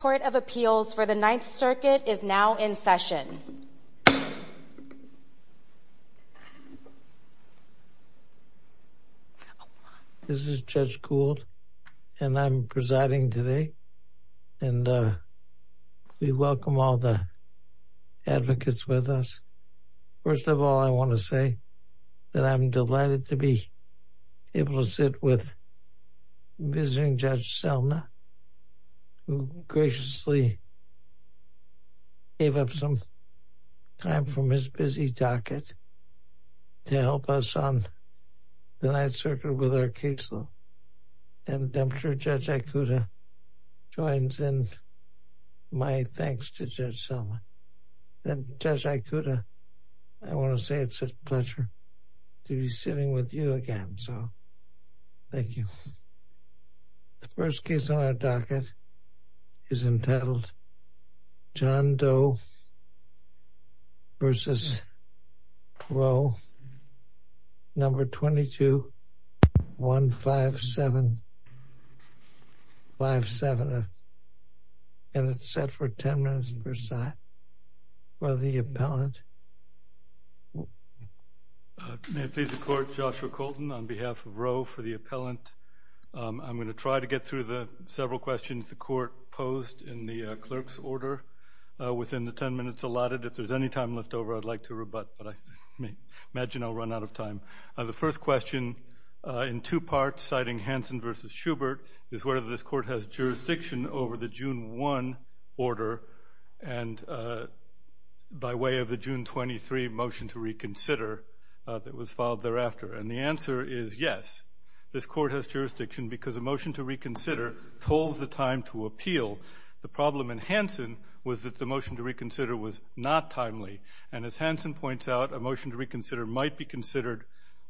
The Court of Appeals for the Ninth Circuit is now in session. This is Judge Gould, and I'm presiding today, and we welcome all the advocates with us. First of all, I want to say that I'm delighted to be able to sit with visiting Judge Selma, who graciously gave up some time from his busy docket to help us on the Ninth Circuit with our case law, and I'm sure Judge Ikuta joins in my thanks to Judge Selma. And Judge Ikuta, I want to say it's a pleasure to be sitting with you again, so thank you. The first case on our docket is entitled John Doe v. Roe, No. 22-15757, and it's set for 10 minutes per side. For the appellant, may it please the Court, Joshua Colton on behalf of Roe for the appellant I'm going to try to get through the several questions the Court posed in the clerk's order within the 10 minutes allotted. If there's any time left over, I'd like to rebut, but I imagine I'll run out of time. The first question, in two parts, citing Hansen v. Schubert, is whether this Court has jurisdiction over the June 1 order and by way of the June 23 motion to reconsider that was filed thereafter. And the answer is yes. This Court has jurisdiction because a motion to reconsider tolls the time to appeal. The problem in Hansen was that the motion to reconsider was not timely. And as Hansen points out, a motion to reconsider might be considered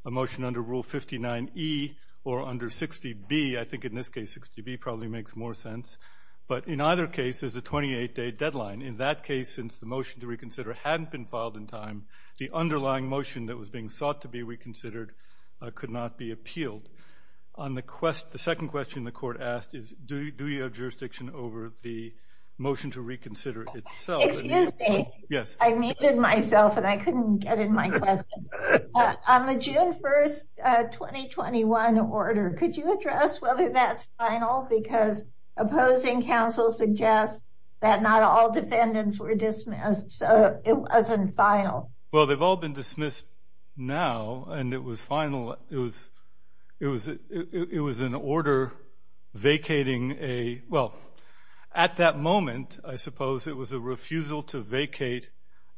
a motion under Rule 59e or under 60b. I think in this case 60b probably makes more sense. But in either case, there's a 28-day deadline. In that case, since the motion to reconsider hadn't been filed in time, the underlying motion that was being sought to be reconsidered could not be appealed. On the second question the Court asked is, do you have jurisdiction over the motion to reconsider itself? Excuse me. Yes. I muted myself and I couldn't get in my question. On the June 1, 2021 order, could you address whether that's final? Because opposing counsel suggests that not all defendants were dismissed, so it wasn't final. Well, they've all been dismissed now, and it was final. It was an order vacating a—well, at that moment, I suppose it was a refusal to vacate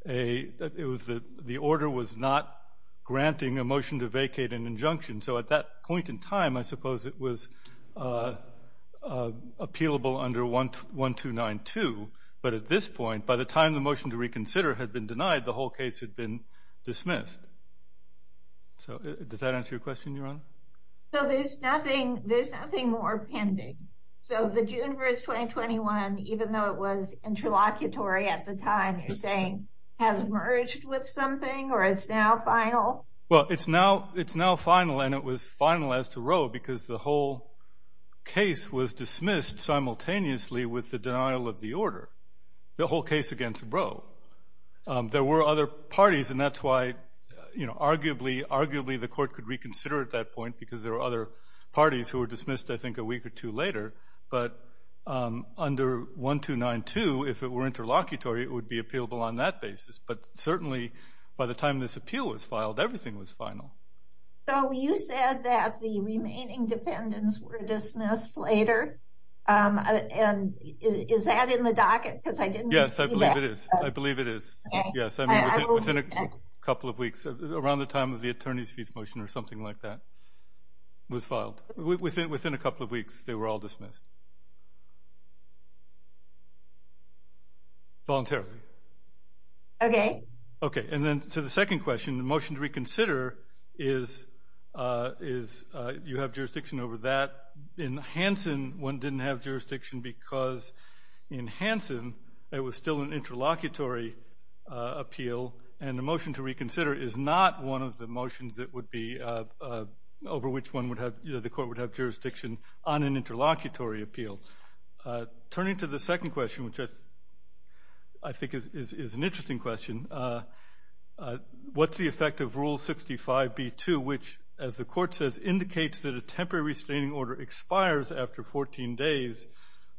a—the order was not granting a motion to vacate an injunction. So at that point in time, I suppose it was appealable under 1292. But at this point, by the time the motion to reconsider had been denied, the whole case had been dismissed. So does that answer your question, Your Honor? So there's nothing—there's nothing more pending. So the June 1, 2021, even though it was interlocutory at the time, you're saying has merged with something or it's now final? Well, it's now—it's now final, and it was final as to Roe because the whole case was disordered, the whole case against Roe. There were other parties, and that's why, you know, arguably—arguably the court could reconsider at that point because there were other parties who were dismissed, I think, a week or two later. But under 1292, if it were interlocutory, it would be appealable on that basis. But certainly, by the time this appeal was filed, everything was final. So you said that the remaining defendants were dismissed later, and is that in the docket? Because I didn't— Yes, I believe it is. I believe it is. Yes. I mean, within a couple of weeks, around the time of the attorney's fees motion or something like that was filed. Within a couple of weeks, they were all dismissed voluntarily. Okay. Okay. And then to the second question, the motion to reconsider is—you have jurisdiction over that. In Hansen, one didn't have jurisdiction because in Hansen, it was still an interlocutory appeal, and the motion to reconsider is not one of the motions that would be—over which one would have—the court would have jurisdiction on an interlocutory appeal. Turning to the second question, which I think is an interesting question, what's the effect of Rule 65b-2, which, as the Court says, indicates that a temporary restraining order expires after 14 days,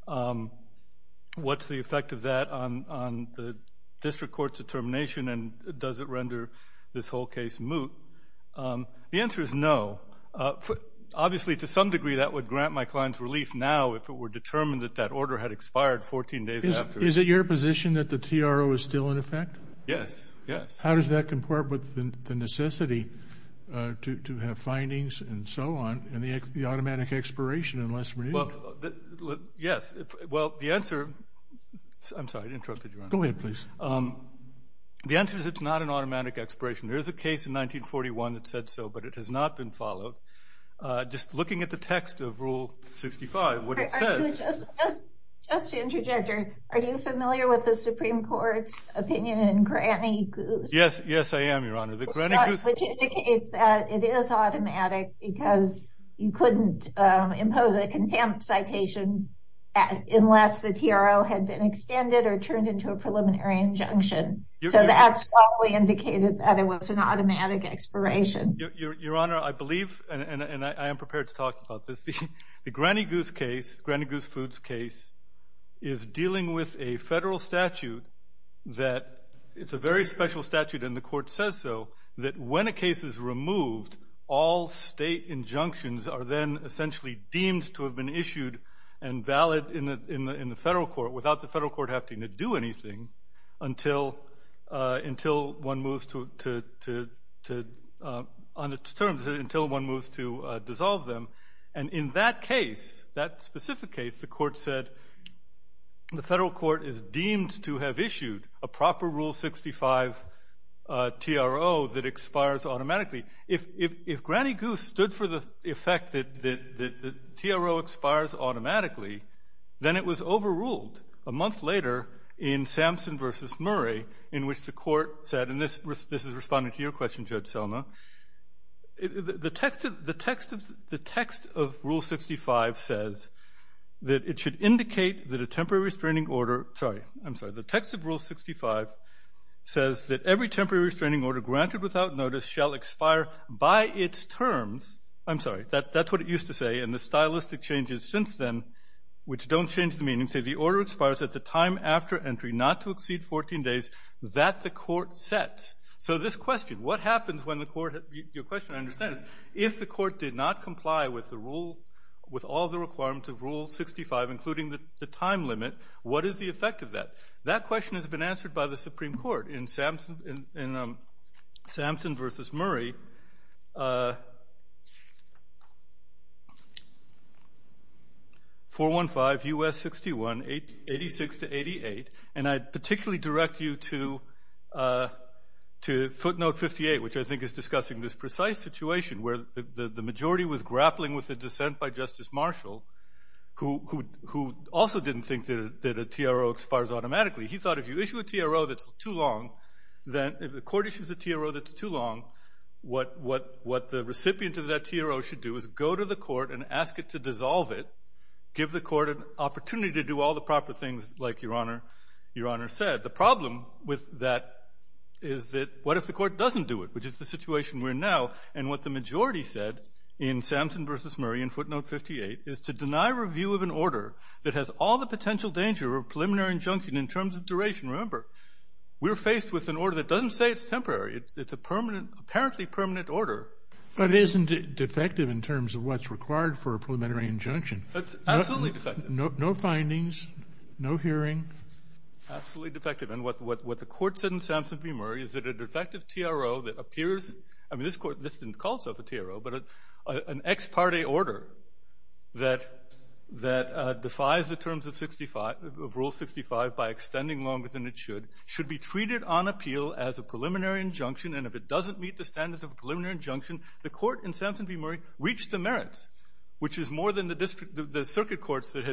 what's the effect of that on the district court's determination, and does it render this whole case moot? The answer is no. Obviously, to some degree, that would grant my client's relief now if it were determined that that order had expired 14 days after. Is it your position that the TRO is still in effect? Yes. Yes. How does that comport with the necessity to have findings and so on in the automatic expiration unless renewed? Well, yes. Well, the answer—I'm sorry. I interrupted you, Your Honor. Go ahead, please. The answer is it's not an automatic expiration. There is a case in 1941 that said so, but it has not been followed. Just looking at the text of Rule 65, what it says— Just to interject here, are you familiar with the Supreme Court's opinion in Granny Goose? Yes. Yes, I am, Your Honor. The Granny Goose— Which indicates that it is automatic because you couldn't impose a contempt citation unless the TRO had been extended or turned into a preliminary injunction, so that's probably indicated that it was an automatic expiration. Your Honor, I believe, and I am prepared to talk about this, the Granny Goose case, Granny Goose Foods case, is dealing with a federal statute that—it's a very special statute and the court says so—that when a case is removed, all state injunctions are then essentially deemed to have been issued and valid in the federal court without the federal court having to do anything until one moves to—on its terms, until one moves to dissolve them. And in that case, that specific case, the court said the federal court is deemed to have issued a proper Rule 65 TRO that expires automatically. If Granny Goose stood for the effect that the TRO expires automatically, then it was overruled a month later in Sampson v. Murray, in which the court said—and this is responding to your question, Judge Selma—the text of Rule 65 says that it should indicate that a temporary restraining order—sorry, I'm sorry—the text of Rule 65 says that every temporary restraining order granted without notice shall expire by its terms—I'm sorry, that's what it used to say, and the stylistic changes since then, which don't change the meaning—say the order expires at the time after entry not to exceed 14 days that the court sets. So this question, what happens when the court—your question, I understand, is if the court did not comply with the rule—with all the requirements of Rule 65, including the time limit, what is the effect of that? That question has been answered by the Supreme Court in Sampson v. Murray, 415 U.S. 61, 86-88, and I'd particularly direct you to footnote 58, which I think is discussing this precise situation where the majority was grappling with a dissent by Justice Marshall, who also didn't think that a TRO expires automatically. He thought if you issue a TRO that's too long, if the court issues a TRO that's too long, what the recipient of that TRO should do is go to the court and ask it to dissolve it, give the court an opportunity to do all the proper things like Your Honor said. The problem with that is that what if the court doesn't do it, which is the situation we're in now, and what the majority said in Sampson v. Murray in footnote 58 is to all the potential danger of preliminary injunction in terms of duration, remember, we're faced with an order that doesn't say it's temporary, it's a permanent—apparently permanent order. But isn't it defective in terms of what's required for a preliminary injunction? It's absolutely defective. No findings, no hearing. Absolutely defective. And what the court said in Sampson v. Murray is that a defective TRO that appears—I mean, this court—this didn't call itself a TRO, but an ex parte order that defies the standards of Rule 65 by extending longer than it should, should be treated on appeal as a preliminary injunction, and if it doesn't meet the standards of a preliminary injunction, the court in Sampson v. Murray reached the merits, which is more than the circuit courts that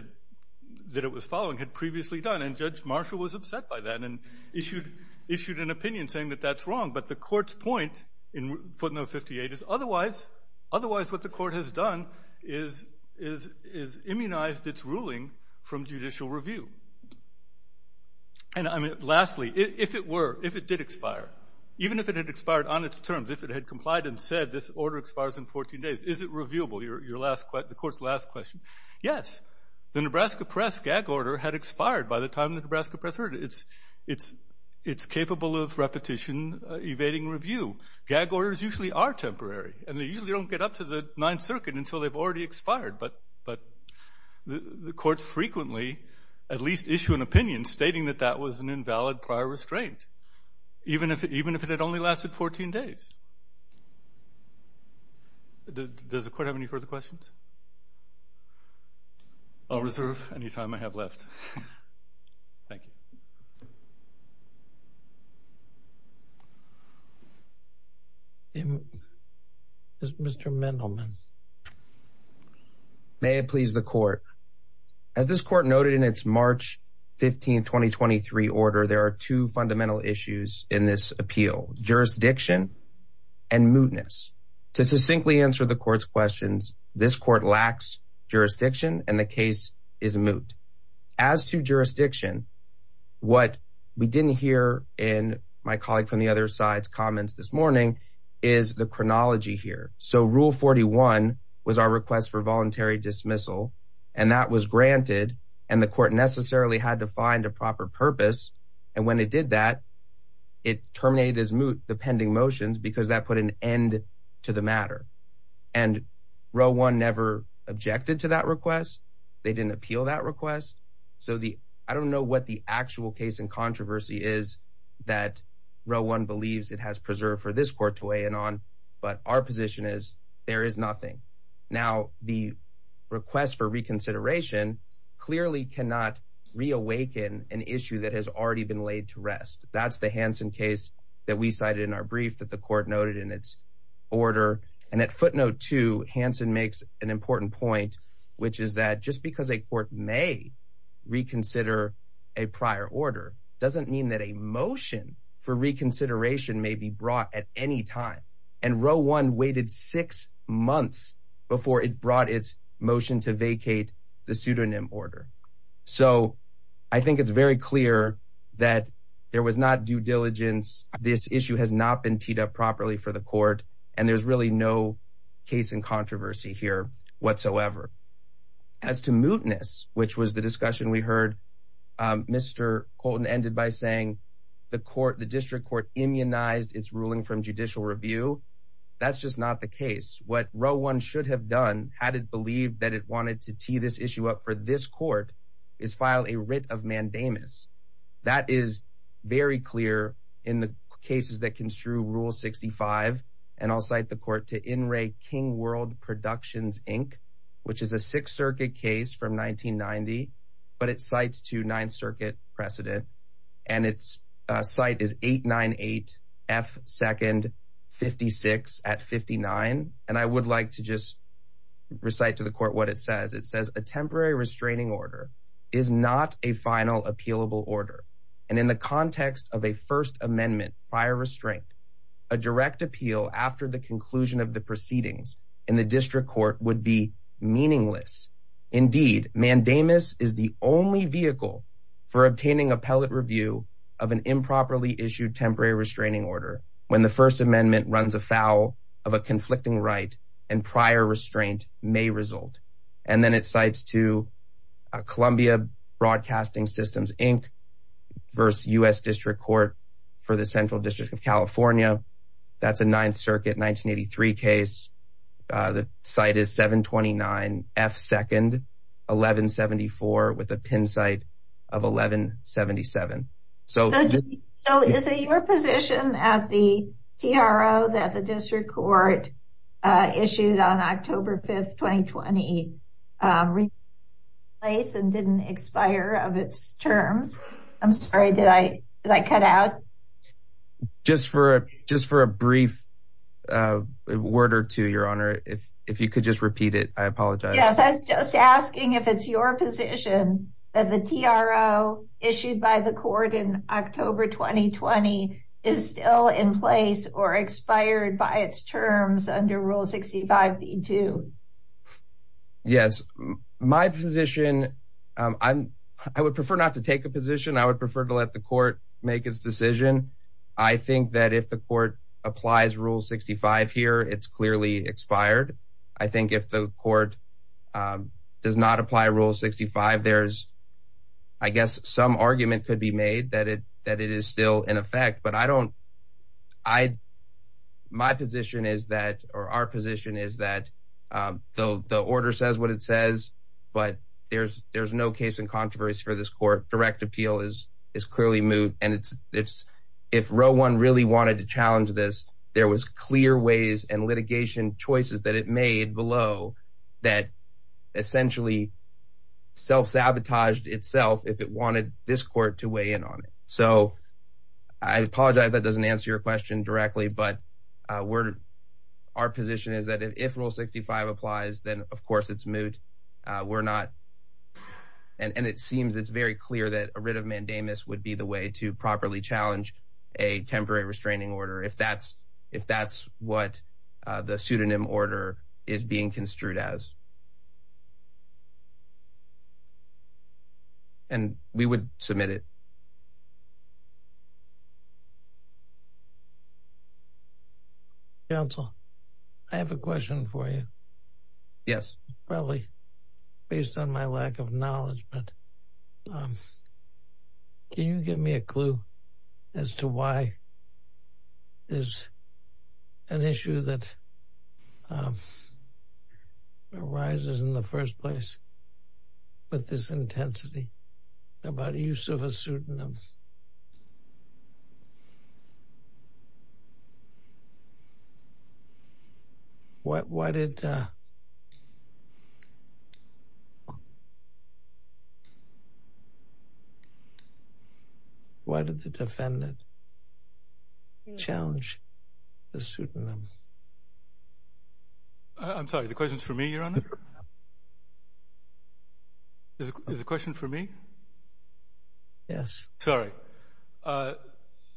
it was following had previously done. And Judge Marshall was upset by that and issued an opinion saying that that's wrong. But the court's point in footnote 58 is otherwise what the court has done is immunized its ruling from judicial review. And I mean, lastly, if it were, if it did expire, even if it had expired on its terms, if it had complied and said this order expires in 14 days, is it reviewable, the court's last question? Yes. The Nebraska Press gag order had expired by the time the Nebraska Press heard it. It's capable of repetition evading review. Gag orders usually are temporary, and they usually don't get up to the Ninth Circuit until they've already expired. But the courts frequently at least issue an opinion stating that that was an invalid prior restraint, even if it had only lasted 14 days. Does the court have any further questions? I'll reserve any time I have left. Thank you. Mr. Mendelman. May it please the court. As this court noted in its March 15, 2023 order, there are two fundamental issues in this appeal, jurisdiction and mootness. To succinctly answer the court's questions, this court lacks jurisdiction and the case is moot. As to jurisdiction, what we didn't hear in my colleague from the other side's comments this morning is the chronology here. So Rule 41 was our request for voluntary dismissal, and that was granted, and the court necessarily had to find a proper purpose. And when it did that, it terminated as moot the pending motions because that put an end to the matter. And Row 1 never objected to that request. They didn't appeal that request. So I don't know what the actual case in controversy is that Row 1 believes it has preserved for this court to weigh in on, but our position is there is nothing. Now the request for reconsideration clearly cannot reawaken an issue that has already been laid to rest. That's the Hansen case that we cited in our brief that the court noted in its order. And at footnote 2, Hansen makes an important point, which is that just because a court may reconsider a prior order doesn't mean that a motion for reconsideration may be brought at any time. And Row 1 waited six months before it brought its motion to vacate the pseudonym order. So I think it's very clear that there was not due diligence. This issue has not been teed up properly for the court, and there's really no case in controversy here whatsoever. As to mootness, which was the discussion we heard, Mr. Colton ended by saying the district court immunized its ruling from judicial review. That's just not the case. What Row 1 should have done had it believed that it wanted to tee this issue up for this court is file a writ of mandamus. That is very clear in the cases that construe Rule 65. And I'll cite the court to In Re King World Productions, Inc., which is a Sixth Circuit case from 1990, but it cites to Ninth Circuit precedent. And its site is 898F256 at 59. And I would like to just recite to the court what it says. It says a temporary restraining order is not a final appealable order. And in the context of a First Amendment prior restraint, a direct appeal after the conclusion of the proceedings in the district court would be meaningless. Indeed, mandamus is the only vehicle for obtaining appellate review of an improperly issued temporary restraining order when the First Amendment runs afoul of a conflicting right and prior restraint may result. And then it cites to Columbia Broadcasting Systems, Inc. versus U.S. District Court for the Central District of California. That's a Ninth Circuit 1983 case. The site is 729F2nd 1174 with a pin site of 1177. So is it your position at the TRO that the district court issued on October 5th, 2020, replaced and didn't expire of its terms? I'm sorry, did I cut out? Just for just for a brief word or two, Your Honor, if you could just repeat it. I apologize. Yes, I was just asking if it's your position that the TRO issued by the court in October 2020 is still in place or expired by its terms under Rule 65. Yes, my position, I would prefer not to take a position. I would prefer to let the court make its decision. I think that if the court applies Rule 65 here, it's clearly expired. I think if the court does not apply Rule 65, there's I guess some argument could be made that it is still in effect. But I don't I my position is that or our position is that the order says what it says. But there's no case in controversy for this court. Direct appeal is clearly moot. And it's if row one really wanted to challenge this, there was clear ways and litigation choices that it made below that essentially self sabotaged itself if it wanted this court to weigh in on it. So I apologize that doesn't answer your question directly. But we're our position is that if Rule 65 applies, then, of course, it's moot. We're not. And it seems it's very clear that a writ of mandamus would be the way to properly challenge a temporary restraining order. If that's if that's what the pseudonym order is being construed as. And we would submit it. Council, I have a question for you. Yes, probably based on my lack of knowledge, but. I'm. Can you give me a clue as to why? There's an issue that arises in the first place with this intensity about the use of a pseudonym. Why did. Why did the defendant. Challenge the pseudonym. I'm sorry, the question is for me, Your Honor. Is the question for me? Yes, sorry,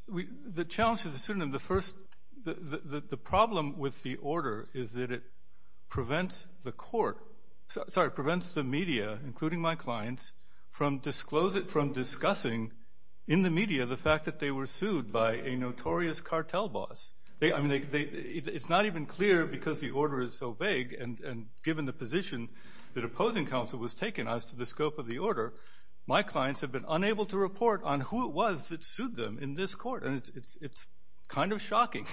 we the challenge of the pseudonym, the first the problem with the order is that prevents the court sorry, prevents the media, including my clients from disclose it from discussing in the media the fact that they were sued by a notorious cartel boss. I mean, it's not even clear because the order is so vague. And given the position that opposing counsel was taken as to the scope of the order, my clients have been unable to report on who it was that sued them in this court. And it's kind of shocking.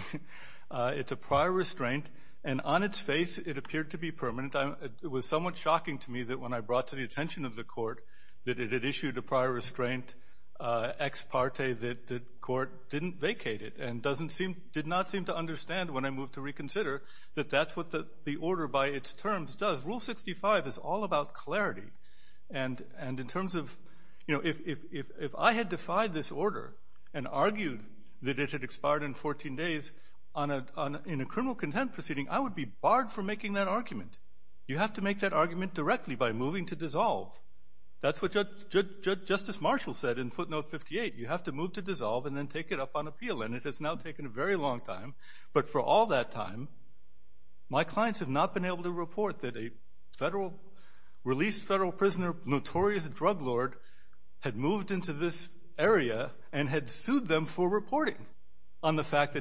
It's a prior restraint and on its face, it appeared to be permanent. I was somewhat shocking to me that when I brought to the attention of the court that it issued a prior restraint ex parte that the court didn't vacate it and doesn't seem did not seem to understand when I moved to reconsider that that's what the order by its terms does. Rule 65 is all about clarity. And and in terms of if I had defied this order and argued that it had expired in 14 days on a in a criminal contempt proceeding, I would be barred from making that argument. You have to make that argument directly by moving to dissolve. That's what Justice Marshall said in footnote 58. You have to move to dissolve and then take it up on appeal. And it has now taken a very long time. But for all that time, my clients have not been able to report that a federal released federal prisoner, notorious drug lord, had moved into this area and had sued them for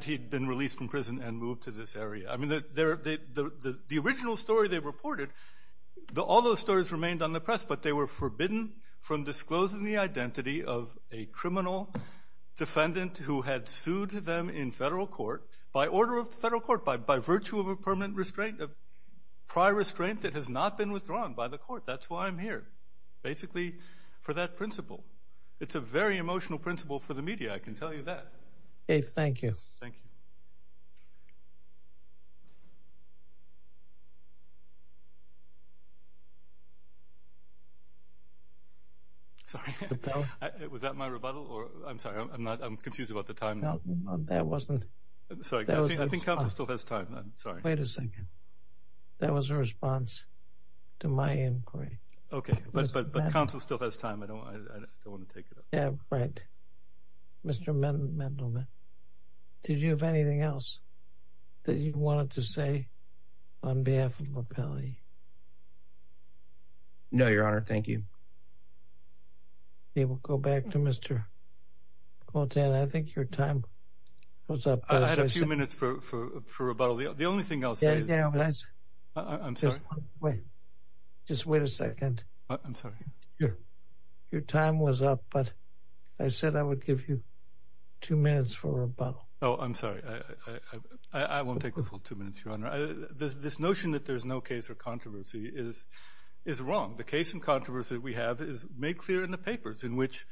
he'd been released from prison and moved to this area. I mean, the original story they reported, all those stories remained on the press, but they were forbidden from disclosing the identity of a criminal defendant who had sued them in federal court by order of the federal court, by virtue of a permanent restraint of prior restraint that has not been withdrawn by the court. That's why I'm here, basically for that principle. It's a very emotional principle for the media. I can tell you that. OK, thank you. Thank you. So was that my rebuttal or I'm sorry, I'm not I'm confused about the time that wasn't so I think Council still has time. I'm sorry. Wait a second. That was a response to my inquiry. OK, but the council still has time. I don't I don't want to take it. Yeah, right. Mr. Mendelman, did you have anything else that you wanted to say on behalf of the county? No, your honor, thank you. They will go back to Mr. Quinton, I think your time was up. I had a few minutes for for for about the only thing I'll say is I'm sorry. Wait, just wait a second. I'm sorry. Your your time was up, but I said I would give you two minutes for rebuttal. Oh, I'm sorry. I won't take the full two minutes. Your honor, this notion that there's no case or controversy is is wrong. The case and controversy we have is made clear in the papers in which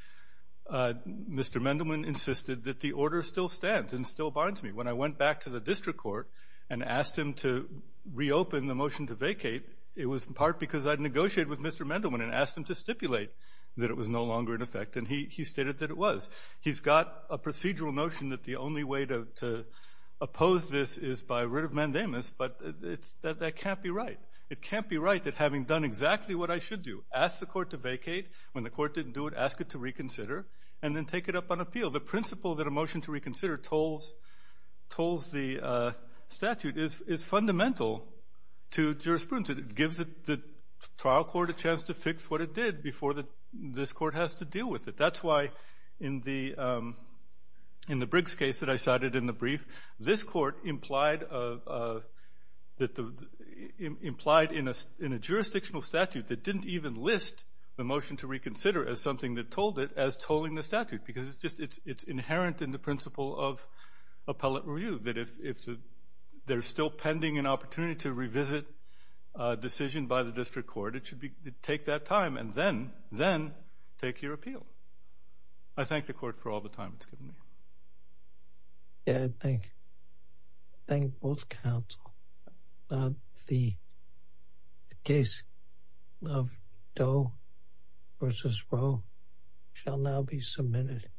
Mr. Mendelman insisted that the order still stands and still binds me. When I went back to the district court and asked him to reopen the motion to vacate, it was in part because I'd negotiated with Mr. Mendelman and asked him to stipulate that it was no longer in effect. And he stated that it was. He's got a procedural notion that the only way to oppose this is by writ of mandamus. But it's that that can't be right. It can't be right that having done exactly what I should do, ask the court to vacate when the court didn't do it, ask it to reconsider and then take it up on appeal. The principle that a motion to reconsider tolls the statute is fundamental to jurisprudence. It gives the trial court a chance to fix what it did before this court has to deal with it. That's why in the Briggs case that I cited in the brief, this court implied in a jurisdictional statute that didn't even list the motion to reconsider as something that told it as tolling the statute. Because it's just it's inherent in the principle of appellate review that if they're still pending an opportunity to revisit a decision by the district court, it should be take that time and then then take your appeal. I thank the court for all the time it's given me. Yeah, I thank both counsel. The case of Doe v. Rowe shall now be submitted.